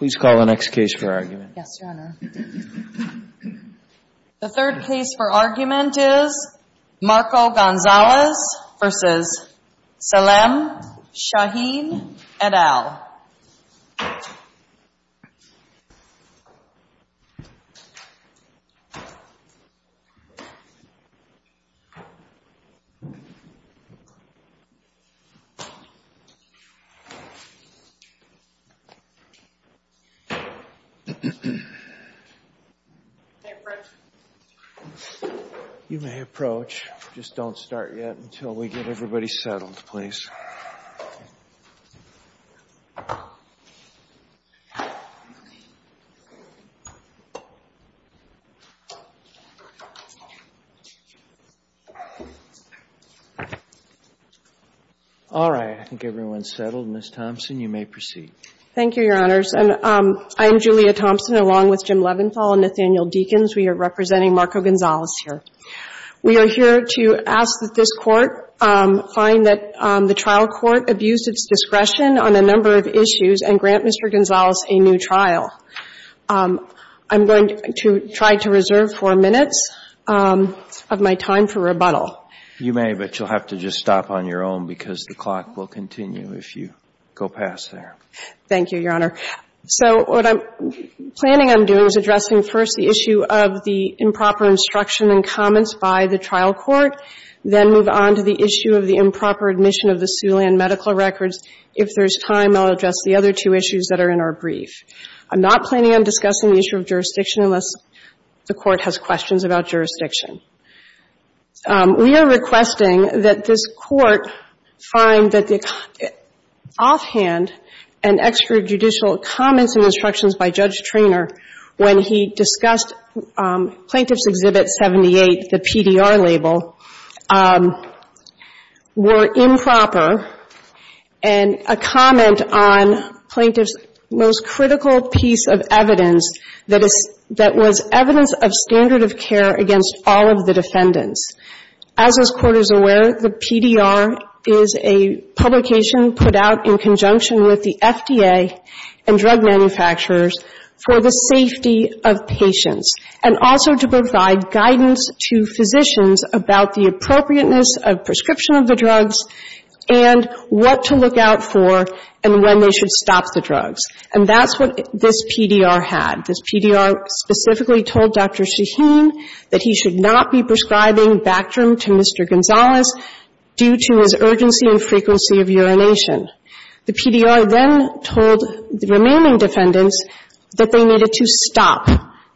The third case for argument is Marco Gonzalez v. Salem Shahin et al. Can I approach? You may approach. Just don't start yet until we get everybody settled, please. All right. I think everyone's settled. Ms. Thompson, you may proceed. Thank you, Your Honors. I'm Julia Thompson along with Jim Leventhal and Nathaniel Deakins. We are representing Marco Gonzalez here. We are here to ask that this Court find that the trial court abused its discretion on a number of issues and grant Mr. Gonzalez a new trial. I'm going to try to reserve four minutes of my time for rebuttal. You may, but you'll have to just stop on your own because the clock will continue if you go past there. Thank you, Your Honor. So what I'm planning on doing is addressing first the issue of the improper instruction and comments by the trial court, then move on to the issue of the improper admission of the Sooley and medical records. If there's time, I'll address the other two issues that are in our brief. I'm not planning on discussing the issue of jurisdiction unless the Court has questions about jurisdiction. We are requesting that this Court find that the offhand and extrajudicial comments and instructions by Judge Treanor when he discussed Plaintiff's Exhibit 78, the PDR label, were improper and a comment on Plaintiff's most critical piece of evidence that was evidence of standard of care against all of the defendants. As this Court is aware, the PDR is a publication put out in conjunction with the FDA and drug manufacturers for the safety of patients and also to provide guidance to physicians about the appropriateness of prescription of the drugs and what to look out for and when they should stop the drugs. And that's what this PDR had. This PDR specifically told Dr. Shaheen that he should not be prescribing Bactrim to Mr. Gonzalez due to his urgency and frequency of urination. The PDR then told the remaining defendants that they needed to stop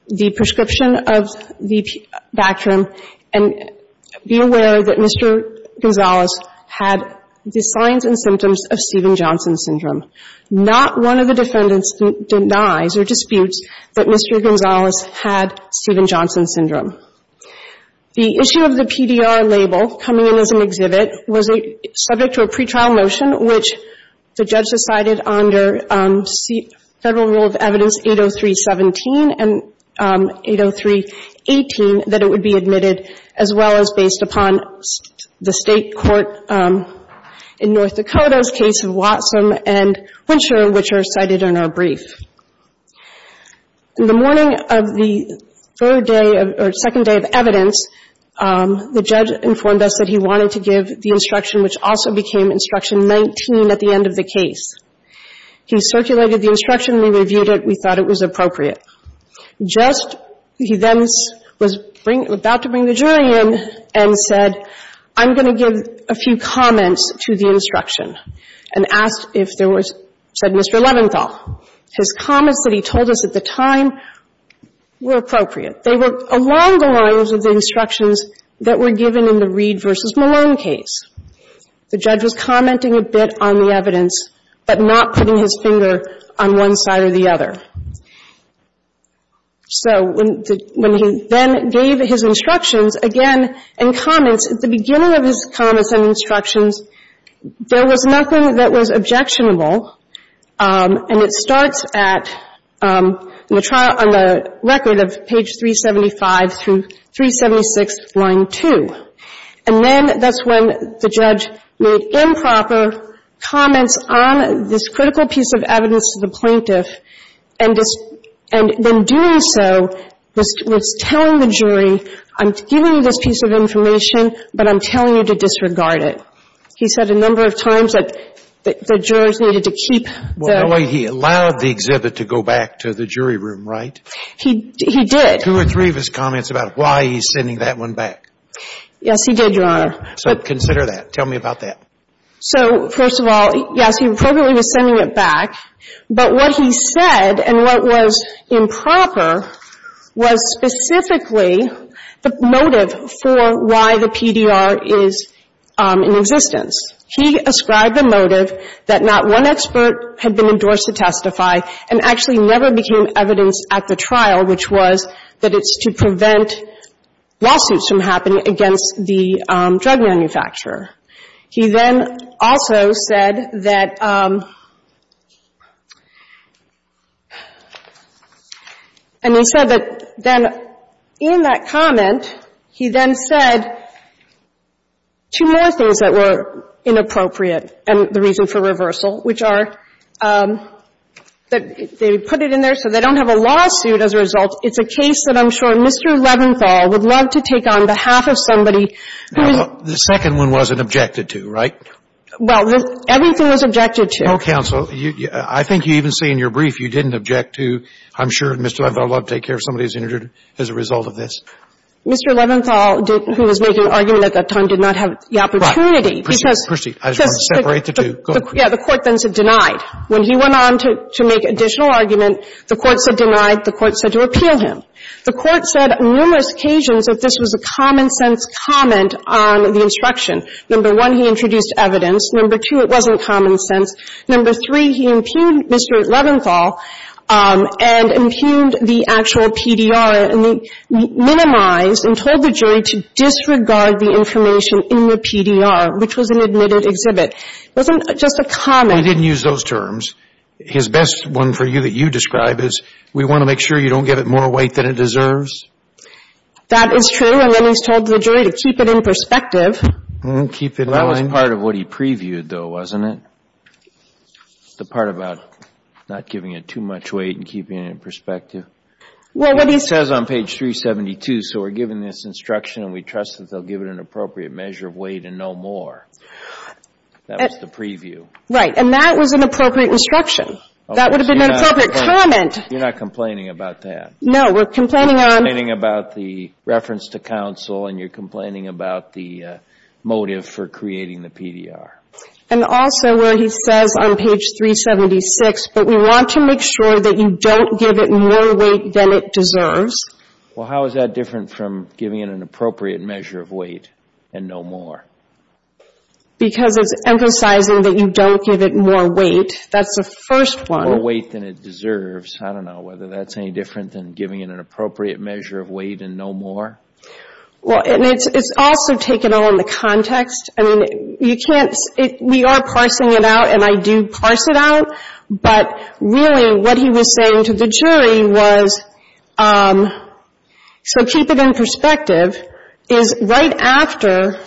the prescription of the Bactrim and be aware that Mr. Gonzalez had the signs and symptoms of Stephen Johnson syndrome. The issue of the PDR label coming in as an exhibit was subject to a pretrial motion which the judge decided under Federal Rule of Evidence 803.17 and 803.18 that it would be admitted as well as based upon the State Court in North Dakota's case of Watson and Winchester, which are cited in our brief. In the morning of the third day or second day of evidence, the judge informed us that he wanted to give the instruction which also became instruction 19 at the end of the case. He circulated the instruction. We reviewed it. We thought it was appropriate. Just he then was about to bring the jury in and said, I'm going to give a few comments to the instruction and asked if there was, said Mr. Leventhal. His comments that he told us at the time were appropriate. They were along the lines of the instructions that were given in the Reed v. Malone case. The judge was commenting a bit on the evidence, but not putting his finger on one side or the other. So when he then gave his instructions again and comments, at the beginning of his comments and instructions, there was nothing that was objectionable. And it starts at, in the trial, on the record of page 375 through 376, line 2. And then that's when the judge made improper comments on this critical piece of evidence to the plaintiff, and then doing so was telling the jury, I'm giving you this piece of information, but I'm telling you to disregard it. He said a number of times that the jurors needed to keep the ---- Well, he allowed the exhibit to go back to the jury room, right? He did. Two or three of his comments about why he's sending that one back. Yes, he did, Your Honor. So consider that. Tell me about that. So, first of all, yes, he appropriately was sending it back, but what he said and what was improper was specifically the motive for why the PDR is in existence. He ascribed the motive that not one expert had been endorsed to testify and actually never became evidence at the trial, which was that it's to prevent lawsuits from happening against the drug manufacturer. He then also said that ---- and he said that then in that comment, he then said two more things that were inappropriate and the reason for reversal, which are that they put it in there so they don't have a lawsuit as a result. It's a case that I'm sure Mr. Leventhal would love to take on behalf of somebody who is ---- Well, the second one wasn't objected to, right? Well, everything was objected to. No, counsel. I think you even say in your brief you didn't object to, I'm sure Mr. Leventhal would love to take care of somebody who's injured as a result of this. Mr. Leventhal, who was making an argument at that time, did not have the opportunity because ---- Right. Proceed. Proceed. I just want to separate the two. Go ahead. Yeah. The Court then said denied. When he went on to make additional argument, the Court said denied. The Court said to appeal him. The Court said numerous occasions that this was a common-sense comment on the instruction. Number one, he introduced evidence. Number two, it wasn't common sense. Number three, he impugned Mr. Leventhal and impugned the actual PDR and minimized and told the jury to disregard the information in the PDR, which was an admitted exhibit. It wasn't just a comment. Well, he didn't use those terms. His best one for you that you describe is we want to make sure you don't give it more weight than it deserves. That is true. And then he's told the jury to keep it in perspective. Keep it in mind. Well, that was part of what he previewed, though, wasn't it? The part about not giving it too much weight and keeping it in perspective. Well, what he says on page 372, so we're given this instruction and we trust that they'll give it an appropriate measure of weight and no more. That was the preview. Right, and that was an appropriate instruction. That would have been an appropriate comment. You're not complaining about that. No, we're complaining on You're complaining about the reference to counsel and you're complaining about the motive for creating the PDR. And also where he says on page 376, but we want to make sure that you don't give it more weight than it deserves. Well, how is that different from giving it an appropriate measure of weight and no more? Because it's emphasizing that you don't give it more weight. That's the first one. More weight than it deserves. I don't know whether that's any different than giving it an appropriate measure of weight and no more. Well, and it's also taken on the context. I mean, you can't, we are parsing it out and I do parse it out. But really what he was saying to the jury was, so keep it in perspective, is right after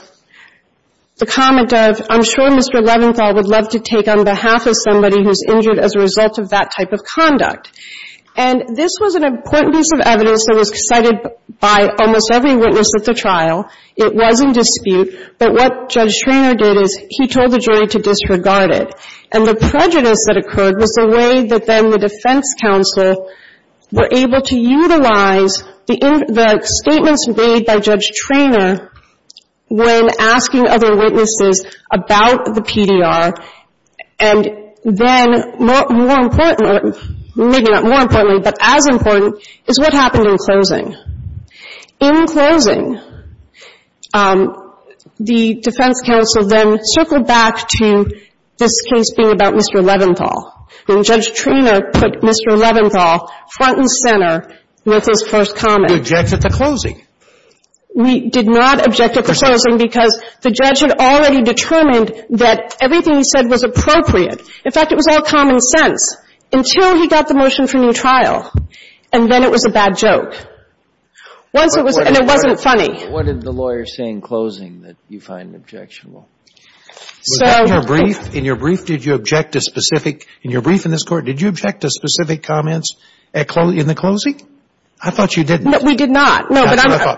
the comment of, I'm sure Mr. Leventhal would love to take on behalf of somebody who's injured as a result of that type of conduct. And this was an important piece of evidence that was cited by almost every witness at the trial. It was in dispute. But what Judge Schroeder did is he told the jury to disregard it. And the prejudice that occurred was the way that then the defense counsel were able to utilize the statements made by Judge Treanor when asking other witnesses about the PDR. And then more importantly, maybe not more importantly, but as important, is what happened in closing. In closing, the defense counsel then circled back to this case being about Mr. Leventhal. And Judge Treanor put Mr. Leventhal front and center with his first comment. You objected to closing. We did not object at the closing because the judge had already determined that everything he said was appropriate. In fact, it was all common sense until he got the motion for new trial. And then it was a bad joke. Once it was, and it wasn't funny. What did the lawyer say in closing that you find objectionable? In your brief, did you object to specific, in your brief in this Court, did you object to specific comments in the closing? I thought you didn't. We did not.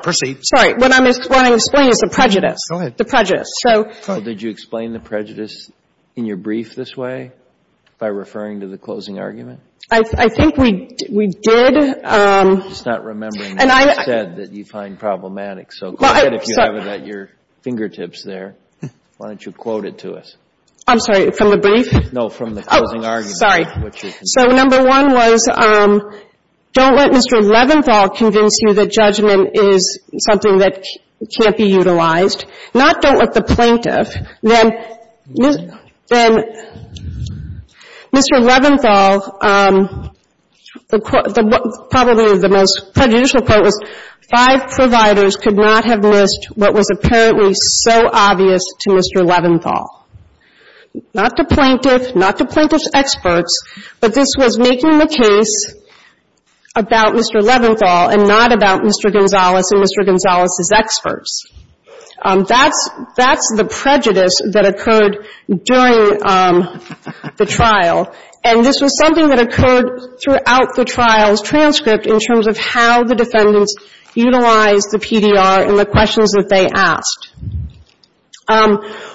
Proceed. Sorry. What I'm explaining is the prejudice. Go ahead. The prejudice. Did you explain the prejudice in your brief this way by referring to the closing argument? I think we did. I'm just not remembering what you said that you find problematic. So go ahead if you have it at your fingertips there. Why don't you quote it to us? I'm sorry. From the brief? No, from the closing argument. Sorry. So number one was, don't let Mr. Leventhal convince you that judgment is something that can't be utilized. Not don't let the plaintiff. Then Mr. Leventhal, probably the most prejudicial part was five providers could not have missed what was apparently so obvious to Mr. Leventhal. Not the plaintiff, not the plaintiff's experts, but this was making the case about Mr. Leventhal and not about Mr. Gonzalez and Mr. Gonzalez's experts. That's the prejudice that occurred during the trial. And this was something that occurred throughout the trial's transcript in terms of how the defendants utilized the PDR and the questions that they asked.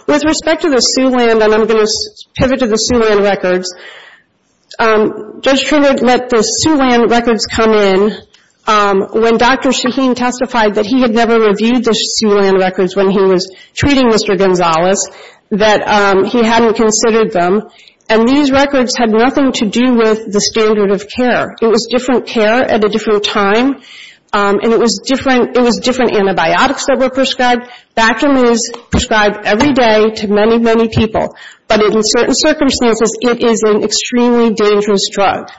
With respect to the Sioux land, and I'm going to pivot to the Sioux land records, Judge Trinidad let the Sioux land records come in when Dr. Shaheen testified that he had never reviewed the Sioux land records when he was treating Mr. Gonzalez, that he hadn't considered them. And these records had nothing to do with the standard of care. It was different care at a different time, and it was different antibiotics that were prescribed. Vaccine was prescribed every day to many, many people. But in certain circumstances, it is an extremely dangerous drug.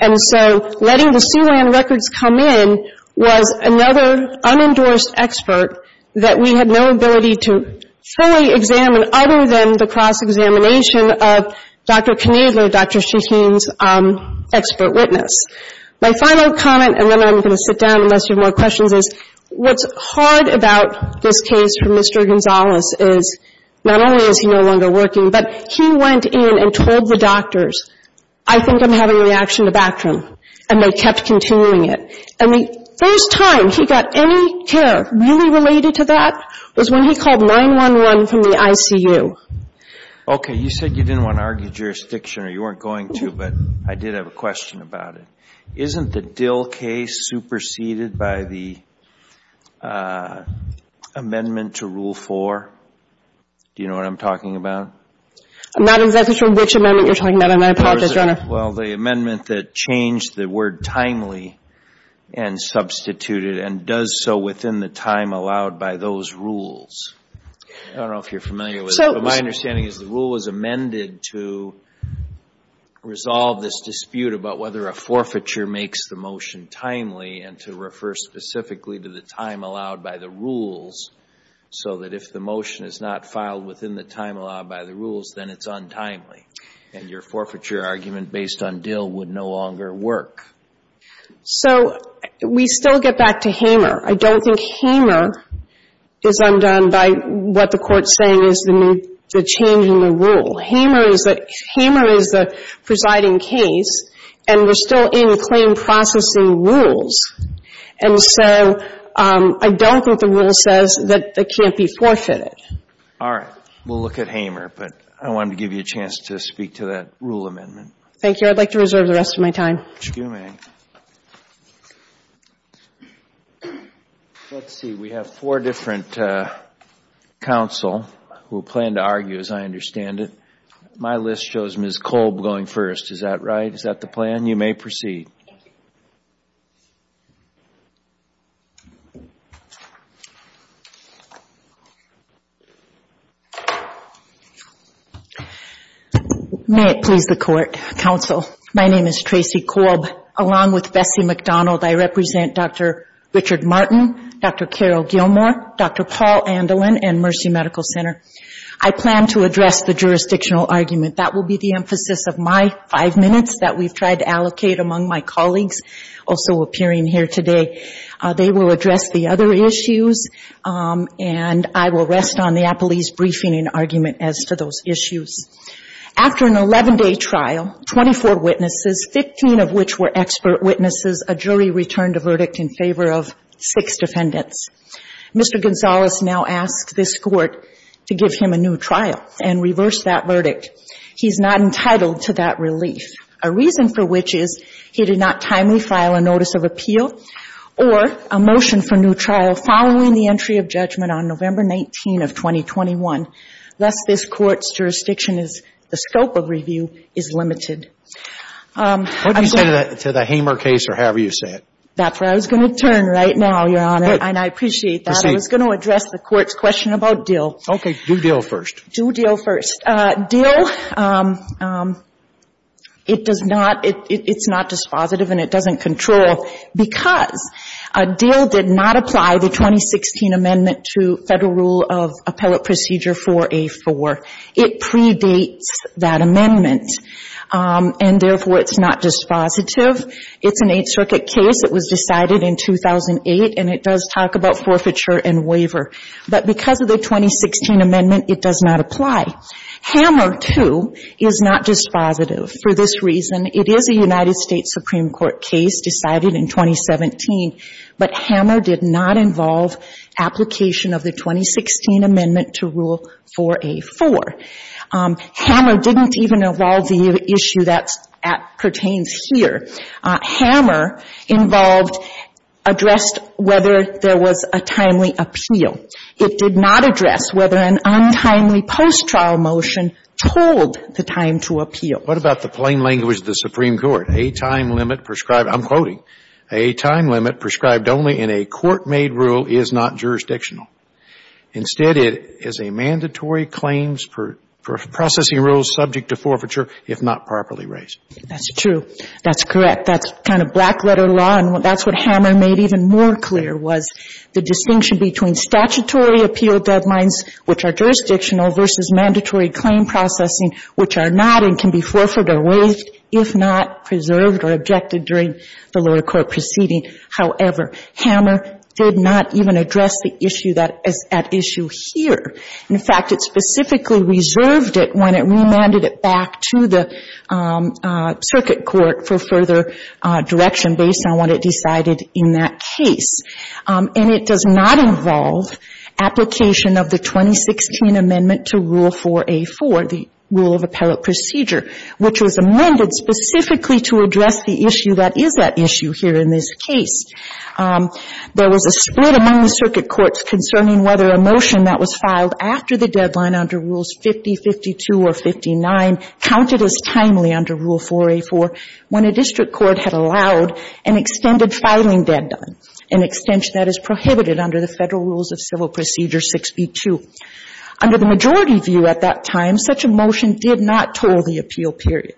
And so letting the Sioux land records come in was another unendorsed expert that we had no ability to fully examine other than the cross-examination of Dr. Knoedler, Dr. Shaheen's expert witness. My final comment, and then I'm going to sit down unless you have more questions, is what's hard about this case for Mr. Gonzalez is not only is he no longer working, but he went in and told the doctors, I think I'm having a reaction to Bactrim. And they kept continuing it. And the first time he got any care really related to that was when he called 911 from the ICU. Okay. You said you didn't want to argue jurisdiction, or you weren't going to, but I did have a question about it. Isn't the Dill case superseded by the amendment to Rule 4? Do you know what I'm talking about? I'm not exactly sure which amendment you're talking about. I apologize, Your Honor. Well, the amendment that changed the word timely and substituted and does so within the time allowed by those rules. I don't know if you're familiar with it, but my understanding is the rule was amended to resolve this dispute about whether a forfeiture makes the motion timely and to refer specifically to the time allowed by the rules so that if the motion is not filed within the time allowed by the rules, then it's untimely. And your forfeiture argument based on Dill would no longer work. So we still get back to Hamer. I don't think Hamer is undone by what the Court's saying is the change in the rule. Hamer is the presiding case, and we're still in claim processing rules. And so I don't think the rule says that it can't be forfeited. All right. We'll look at Hamer, but I wanted to give you a chance to speak to that rule amendment. Thank you. I'd like to reserve the rest of my time. Excuse me. Let's see. We have four different counsel who plan to argue, as I understand it. My list shows Ms. Kolb going first. Is that right? Is that the plan? You may proceed. Thank you. May it please the Court. Counsel, my name is Tracy Kolb. Along with Bessie McDonald, I represent Dr. Richard Martin, Dr. Carol Gilmore, Dr. Paul Andelin, and Mercy Medical Center. I plan to address the jurisdictional argument. That will be the emphasis of my five minutes that we've tried to allocate among my colleagues also appearing here today. They will address the other issues, and I will rest on the appellee's briefing and argument as to those issues. After an 11-day trial, 24 witnesses, 15 of which were expert witnesses, a jury returned a verdict in favor of six defendants. Mr. Gonzalez now asks this Court to give him a new trial and reverse that verdict. He's not entitled to that relief, a reason for which is he did not timely file a notice of appeal or a motion for new trial following the entry of judgment on November 19 of 2021, lest this Court's jurisdiction as the scope of review is limited. What do you say to the Hamer case or however you say it? That's where I was going to turn right now, Your Honor, and I appreciate that. Proceed. I was going to address the Court's question about Dill. Okay. Do Dill first. Do Dill first. Dill, it does not – it's not dispositive and it doesn't control because Dill did not apply the 2016 Amendment to Federal Rule of Appellate Procedure 4A4. It predates that amendment, and therefore, it's not dispositive. It's an Eighth Circuit case. It was decided in 2008, and it does talk about forfeiture and waiver. But because of the 2016 Amendment, it does not apply. Hamer, too, is not dispositive for this reason. It is a United States Supreme Court case decided in 2017, but Hamer did not involve application of the 2016 Amendment to Rule 4A4. Hamer didn't even involve the issue that pertains here. Hamer involved – addressed whether there was a timely appeal. It did not address whether an untimely post-trial motion told the time to appeal. What about the plain language of the Supreme Court? A time limit prescribed – I'm quoting – A time limit prescribed only in a court-made rule is not jurisdictional. Instead, it is a mandatory claims for processing rules subject to forfeiture if not properly raised. That's true. That's correct. That's kind of black-letter law, and that's what Hamer made even more clear, was the distinction between statutory appeal deadlines, which are jurisdictional, versus mandatory claim processing, which are not and can be forfeited or waived if not preserved or objected during the lower court proceeding. However, Hamer did not even address the issue that is at issue here. In fact, it specifically reserved it when it remanded it back to the circuit court for further direction based on what it decided in that case. And it does not involve application of the 2016 Amendment to Rule 4A4, the Rule of Appellate Procedure, which was amended specifically to address the issue that is at issue here in this case. There was a split among the circuit courts concerning whether a motion that was filed after the deadline under Rules 50, 52, or 59 counted as timely under Rule 4A4 when a district court had allowed an extended filing deadline, an extension that is prohibited under the Federal Rules of Civil Procedure 6B2. Under the majority view at that time, such a motion did not toll the appeal period.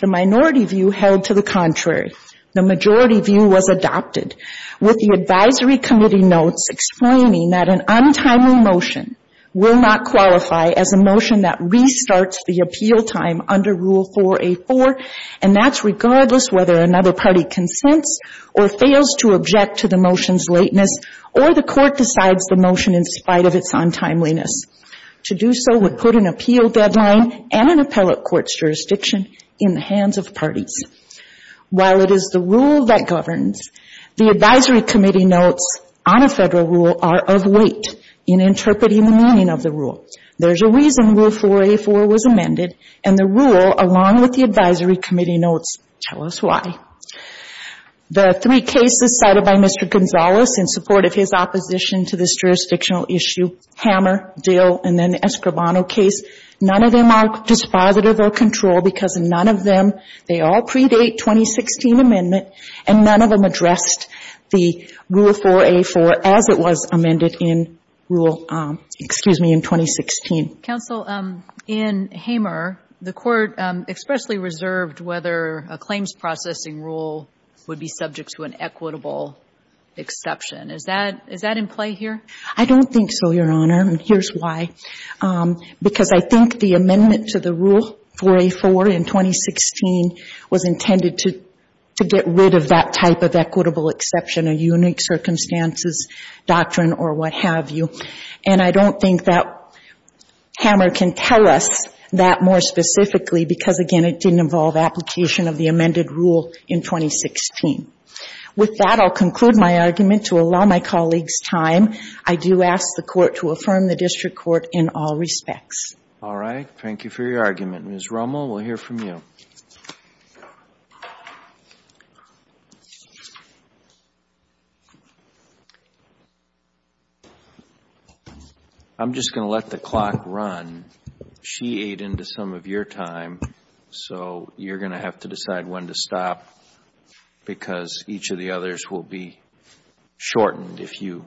The minority view held to the contrary. The majority view was adopted with the advisory committee notes explaining that an untimely motion will not qualify as a motion that restarts the appeal time under Rule 4A4, and that's regardless whether another party consents or fails to object to the motion's lateness, or the court decides the motion in spite of its untimeliness. To do so would put an appeal deadline and an appellate court's jurisdiction in the hands of parties. While it is the rule that governs, the advisory committee notes on a Federal rule are of weight in interpreting the meaning of the rule. There's a reason Rule 4A4 was amended, and the rule, along with the advisory committee notes, tell us why. The three cases cited by Mr. Gonzales in support of his opposition to this jurisdictional issue, Hammer, Dill, and then Escribano case, none of them are dispositive or controlled because none of them, they all predate 2016 amendment, and none of them addressed the Rule 4A4 as it was amended in Rule, excuse me, in 2016. Counsel, in Hammer, the court expressly reserved whether a claims processing rule would be subject to an equitable exception. Is that in play here? I don't think so, Your Honor, and here's why. Because I think the amendment to the Rule 4A4 in 2016 was intended to get rid of that type of equitable exception, a unique circumstances doctrine or what have you. And I don't think that Hammer can tell us that more specifically because, again, it didn't involve application of the amended rule in 2016. With that, I'll conclude my argument to allow my colleagues time. I do ask the Court to affirm the district court in all respects. All right. Thank you for your argument. Ms. Rommel, we'll hear from you. I'm just going to let the clock run. She ate into some of your time, so you're going to have to decide when to stop because each of the others will be shortened if you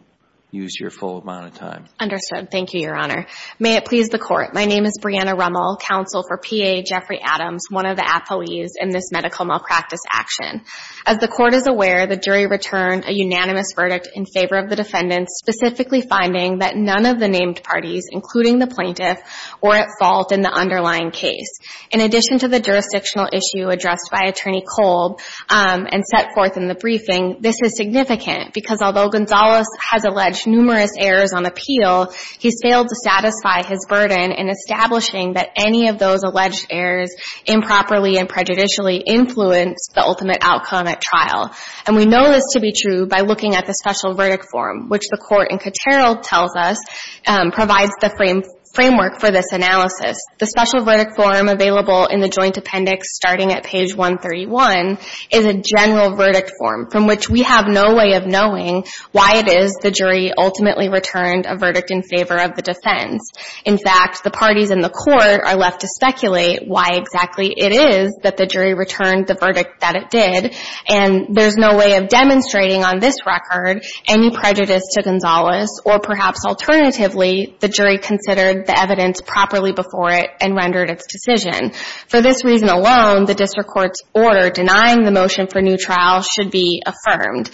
use your full amount of time. Understood. Thank you, Your Honor. May it please the Court, my name is Brianna Rommel, counsel for PA Jeffrey Adams, one of the employees in this medical malpractice action. As the Court is aware, the jury returned a unanimous verdict in favor of the defendant, specifically finding that none of the named parties, including the plaintiff, were at fault in the underlying case. In addition to the jurisdictional issue addressed by Attorney Cold and set forth in the briefing, this is significant because although Gonzalez has alleged numerous errors on appeal, he's failed to satisfy his burden in establishing that any of those alleged errors improperly and prejudicially influence the ultimate outcome at trial. And we know this to be true by looking at the special verdict form, which the Court in Cotero tells us provides the framework for this analysis. The special verdict form available in the joint appendix starting at page 131 is a general verdict form from which we have no way of knowing why it is the jury ultimately returned a verdict in favor of the defense. In fact, the parties in the Court are left to speculate why exactly it is that the jury returned the verdict that it did, and there's no way of demonstrating on this record any prejudice to Gonzalez or perhaps alternatively the jury considered the evidence properly before it and rendered its decision. For this reason alone, the District Court's order denying the motion for new trial should be affirmed.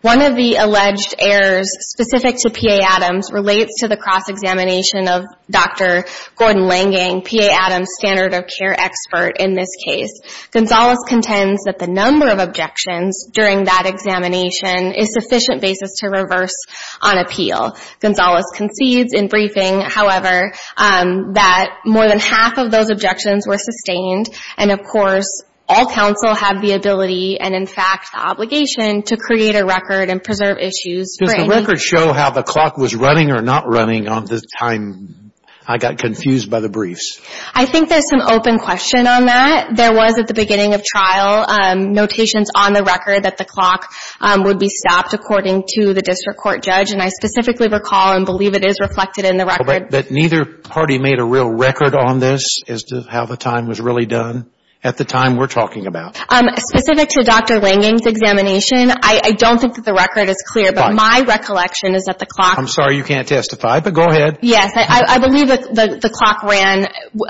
One of the alleged errors specific to P.A. Adams relates to the cross-examination of Dr. Gordon Langing, P.A. Adams' standard of care expert in this case. Gonzalez contends that the number of objections during that examination is sufficient basis to reverse on appeal. Gonzalez concedes in briefing, however, that more than half of those objections were sustained, and of course all counsel have the ability and in fact the obligation to create a record and preserve issues. Does the record show how the clock was running or not running on the time I got confused by the briefs? I think there's some open question on that. There was at the beginning of trial notations on the record that the clock would be stopped according to the District Court judge, and I specifically recall and believe it is reflected in the record. But neither party made a real record on this as to how the time was really done at the time we're talking about. Specific to Dr. Langing's examination, I don't think that the record is clear, but my recollection is that the clock I'm sorry you can't testify, but go ahead. Yes, I believe that the clock ran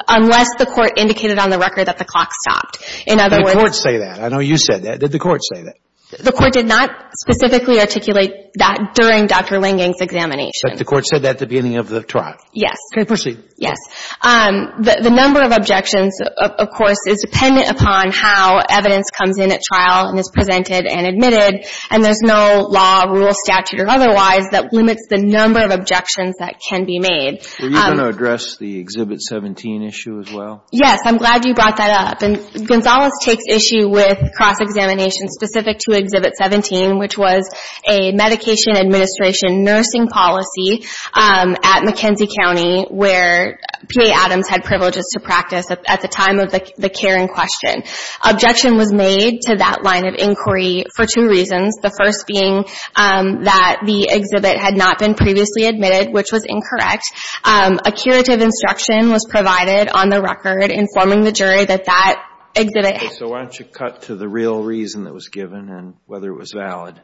unless the Court indicated on the record that the clock stopped. In other words. Did the Court say that? I know you said that. Did the Court say that? The Court did not specifically articulate that during Dr. Langing's examination. But the Court said that at the beginning of the trial? Yes. Okay, proceed. Yes. The number of objections, of course, is dependent upon how evidence comes in at trial and is presented and admitted, and there's no law, rule, statute or otherwise that limits the number of objections that can be made. Are you going to address the Exhibit 17 issue as well? Yes, I'm glad you brought that up. Gonzales takes issue with cross-examination specific to Exhibit 17, which was a medication administration nursing policy at McKenzie County where PA Adams had privileges to practice at the time of the care in question. Objection was made to that line of inquiry for two reasons. The first being that the exhibit had not been previously admitted, which was incorrect. A curative instruction was provided on the record informing the jury that that exhibit had. Okay. So why don't you cut to the real reason that was given and whether it was valid.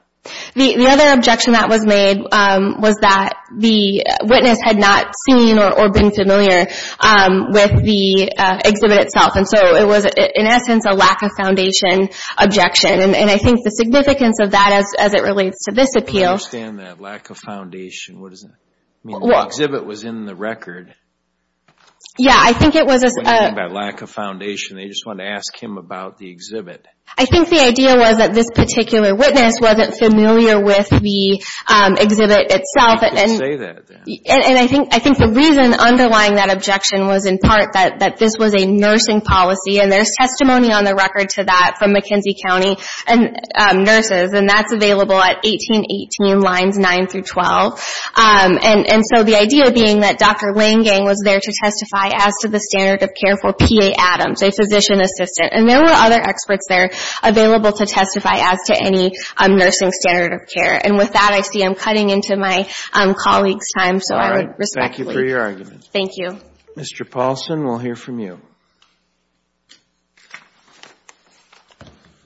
The other objection that was made was that the witness had not seen or been familiar with the exhibit itself. And so it was, in essence, a lack of foundation objection. And I think the significance of that as it relates to this appeal. I don't understand that lack of foundation. What does that mean? The exhibit was in the record. Yeah, I think it was. What do you mean by lack of foundation? They just wanted to ask him about the exhibit. I think the idea was that this particular witness wasn't familiar with the exhibit itself. You could say that. And I think the reason underlying that objection was in part that this was a nursing policy, and there's testimony on the record to that from McKenzie County nurses, and that's available at 1818 lines 9 through 12. And so the idea being that Dr. Langang was there to testify as to the standard of care for P.A. Adams, a physician assistant, and there were other experts there available to testify as to any nursing standard of care. And with that, I see I'm cutting into my colleague's time, so I would respectfully. All right. Thank you for your argument. Thank you. Mr. Paulson, we'll hear from you.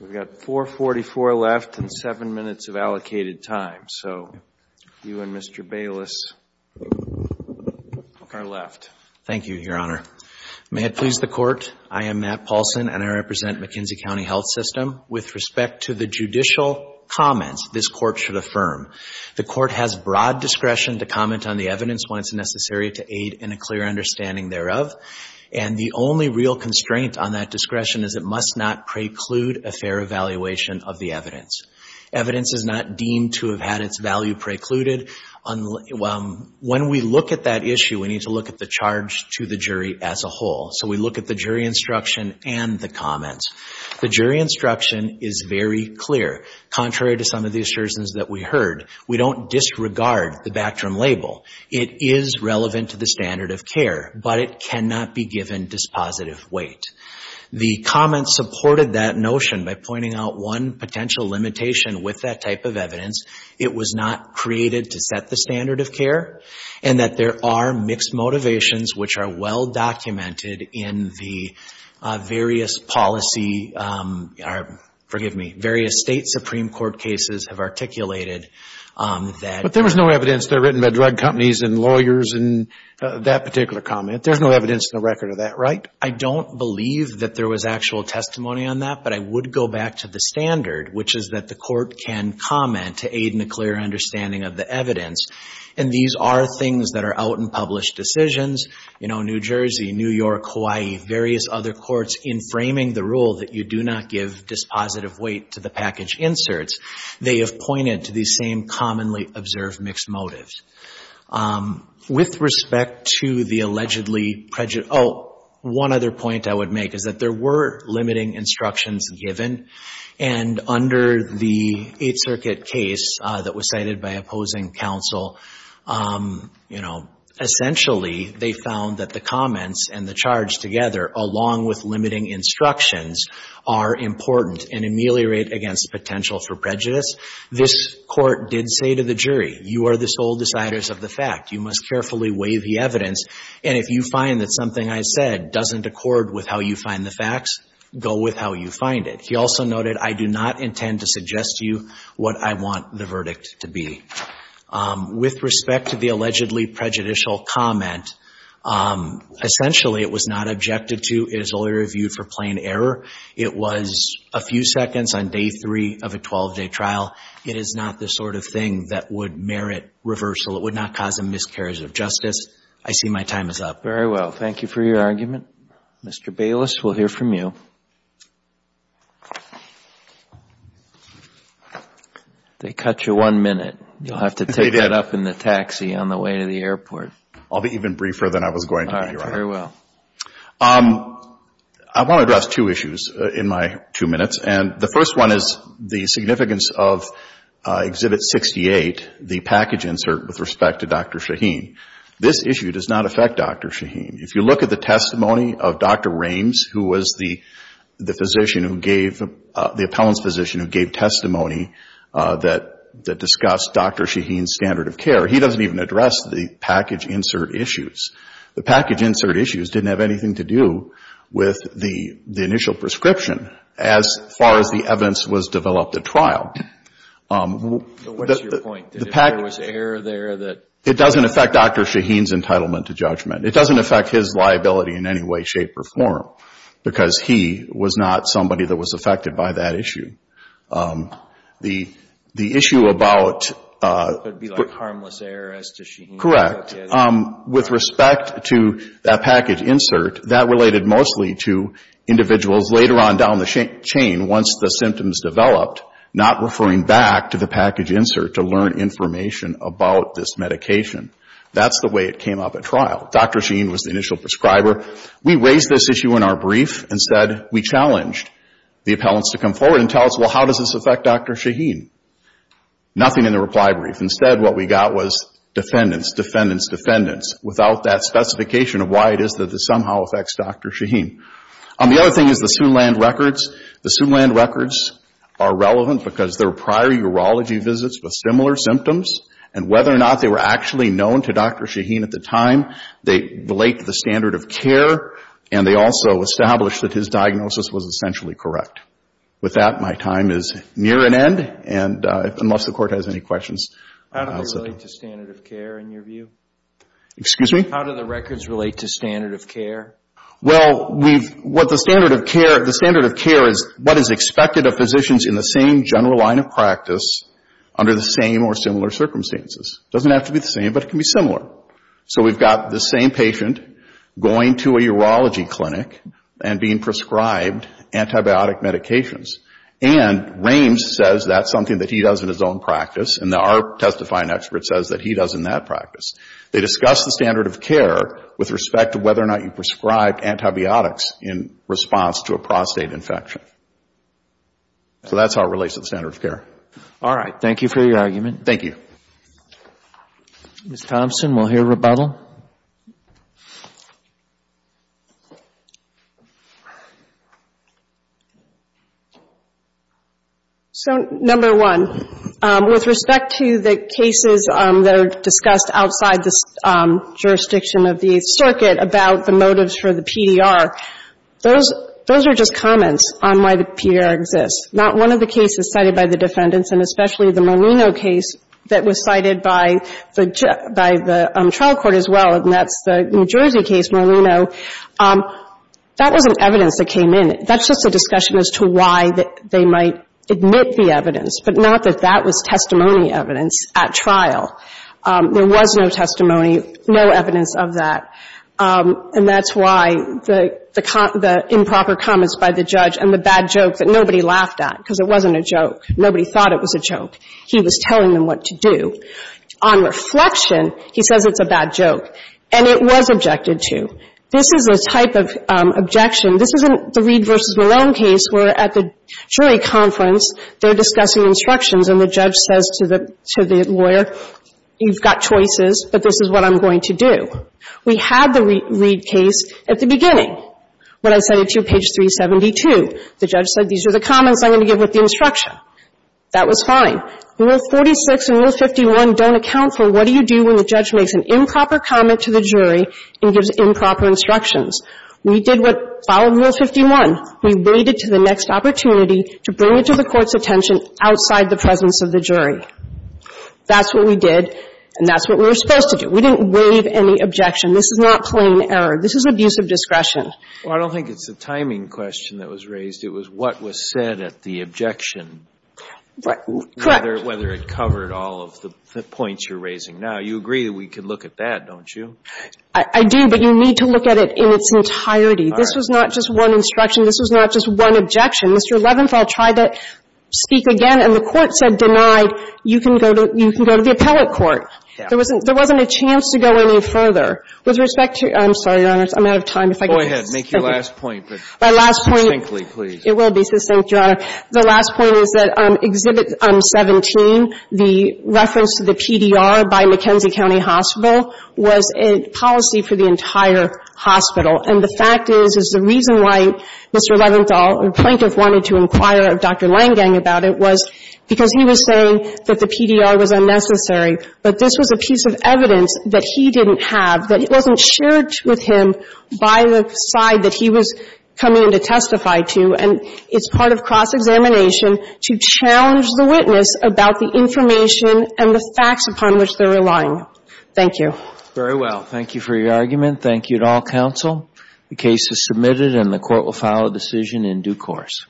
We've got 4.44 left and 7 minutes of allocated time. So you and Mr. Bayless are left. Thank you, Your Honor. May it please the Court, I am Matt Paulson, and I represent McKenzie County Health System. With respect to the judicial comments this Court should affirm, the Court has broad discretion to comment on the evidence when it's necessary to aid in a clear understanding thereof, and the only real constraint on that discretion is it must not preclude a fair evaluation of the evidence. Evidence is not deemed to have had its value precluded. When we look at that issue, we need to look at the charge to the jury as a whole. So we look at the jury instruction and the comments. The jury instruction is very clear. Contrary to some of the assertions that we heard, we don't disregard the Bactrim label. It is relevant to the standard of care, but it cannot be given dispositive weight. The comments supported that notion by pointing out one potential limitation with that type of evidence, it was not created to set the standard of care, and that there are mixed motivations which are well documented in the various policy or, forgive me, various state Supreme Court cases have articulated that. But there was no evidence there written by drug companies and lawyers in that particular comment. There's no evidence in the record of that, right? I don't believe that there was actual testimony on that, but I would go back to the standard, which is that the Court can comment to aid in a clear understanding of the evidence, and these are things that are out in published decisions. You know, New Jersey, New York, Hawaii, various other courts, in framing the rule that you do not give dispositive weight to the package inserts, they have pointed to these same commonly observed mixed motives. With respect to the allegedly prejudice, oh, one other point I would make is that there were limiting instructions given, and under the Eighth Circuit case that was cited by opposing counsel, you know, essentially they found that the comments and the charge together, along with limiting instructions, are important and ameliorate against potential for prejudice. This Court did say to the jury, you are the sole deciders of the fact. You must carefully weigh the evidence, and if you find that something I said doesn't accord with how you find the facts, go with how you find it. He also noted, I do not intend to suggest to you what I want the verdict to be. With respect to the allegedly prejudicial comment, essentially it was not objected to. It was only reviewed for plain error. It was a few seconds on day three of a 12-day trial. It is not the sort of thing that would merit reversal. It would not cause a miscarriage of justice. I see my time is up. Very well. Thank you for your argument. Mr. Bayless, we'll hear from you. They cut you one minute. You'll have to take that up in the taxi on the way to the airport. I'll be even briefer than I was going to be. All right. Very well. I want to address two issues in my two minutes, and the first one is the significance of Exhibit 68, the package insert with respect to Dr. Shaheen. This issue does not affect Dr. Shaheen. If you look at the testimony of Dr. Rames, who was the physician who gave, the appellant's physician who gave testimony that discussed Dr. Shaheen's standard of care, he doesn't even address the package insert issues. The package insert issues didn't have anything to do with the initial prescription as far as the evidence was developed at trial. So what's your point? There was error there that? It doesn't affect Dr. Shaheen's entitlement to judgment. It doesn't affect his liability in any way, shape, or form because he was not somebody that was affected by that issue. The issue about... It would be like harmless error as to Shaheen. Correct. With respect to that package insert, that related mostly to individuals later on down the chain once the symptoms developed, not referring back to the package insert to learn information about this medication. That's the way it came up at trial. Dr. Shaheen was the initial prescriber. We raised this issue in our brief. Instead, we challenged the appellants to come forward and tell us, well, how does this affect Dr. Shaheen? Nothing in the reply brief. Instead, what we got was defendants, defendants, defendants, without that specification of why it is that this somehow affects Dr. Shaheen. The other thing is the Soonland records. The Soonland records are relevant because there were prior urology visits with similar symptoms, and whether or not they were actually known to Dr. Shaheen at the time, they relate to the standard of care, and they also establish that his diagnosis was essentially correct. With that, my time is near an end, unless the Court has any questions. How do they relate to standard of care in your view? Excuse me? How do the records relate to standard of care? Well, the standard of care is what is expected of physicians in the same general line of practice under the same or similar circumstances. It doesn't have to be the same, but it can be similar. So we've got the same patient going to a urology clinic and being prescribed antibiotic medications, and Rames says that's something that he does in his own practice, and our testifying expert says that he does in that practice. They discuss the standard of care with respect to whether or not you prescribed antibiotics in response to a prostate infection. So that's how it relates to the standard of care. All right. Thank you for your argument. Thank you. Ms. Thompson, we'll hear rebuttal. So, number one, with respect to the cases that are discussed outside the jurisdiction of the Eighth Circuit about the motives for the PDR, those are just comments on why the PDR exists. Not one of the cases cited by the defendants, and especially the Molino case that was cited by the trial court as well, and that's the New Jersey case, Molino, that wasn't evidence that came in. That's just a discussion as to why they might admit the evidence, but not that that was testimony evidence at trial. There was no testimony, no evidence of that. And that's why the improper comments by the judge and the bad joke that nobody laughed at, because it wasn't a joke. Nobody thought it was a joke. He was telling them what to do. On reflection, he says it's a bad joke, and it was objected to. This is a type of objection. This isn't the Reed v. Molino case where at the jury conference they're discussing instructions and the judge says to the lawyer, you've got choices, but this is what I'm going to do. We had the Reed case at the beginning when I cited to you page 372. The judge said these are the comments I'm going to give with the instruction. That was fine. Rule 46 and Rule 51 don't account for what do you do when the judge makes an improper comment to the jury and gives improper instructions. We did what followed Rule 51. We waited to the next opportunity to bring it to the court's attention outside the presence of the jury. That's what we did, and that's what we were supposed to do. We didn't waive any objection. This is not plain error. This is abusive discretion. Well, I don't think it's the timing question that was raised. It was what was said at the objection. Correct. Whether it covered all of the points you're raising now. You agree that we can look at that, don't you? I do, but you need to look at it in its entirety. All right. This was not just one instruction. This was not just one objection. Mr. Levenfeld tried to speak again, and the Court said denied. You can go to the appellate court. There wasn't a chance to go any further. With respect to your Honor, I'm out of time. Go ahead. Make your last point, but succinctly, please. My last point, it will be succinct, Your Honor. The last point is that Exhibit 17, the reference to the PDR by McKenzie County Hospital, was a policy for the entire hospital. And the fact is, is the reason why Mr. Leventhal or Planketh wanted to inquire of Dr. Langgang about it was because he was saying that the PDR was unnecessary. But this was a piece of evidence that he didn't have, that wasn't shared with him by the side that he was coming in to testify to. And it's part of cross-examination to challenge the witness about the information and the facts upon which they're relying. Thank you. Very well. Thank you for your argument. Thank you to all counsel. The case is submitted and the court will file a decision in due course.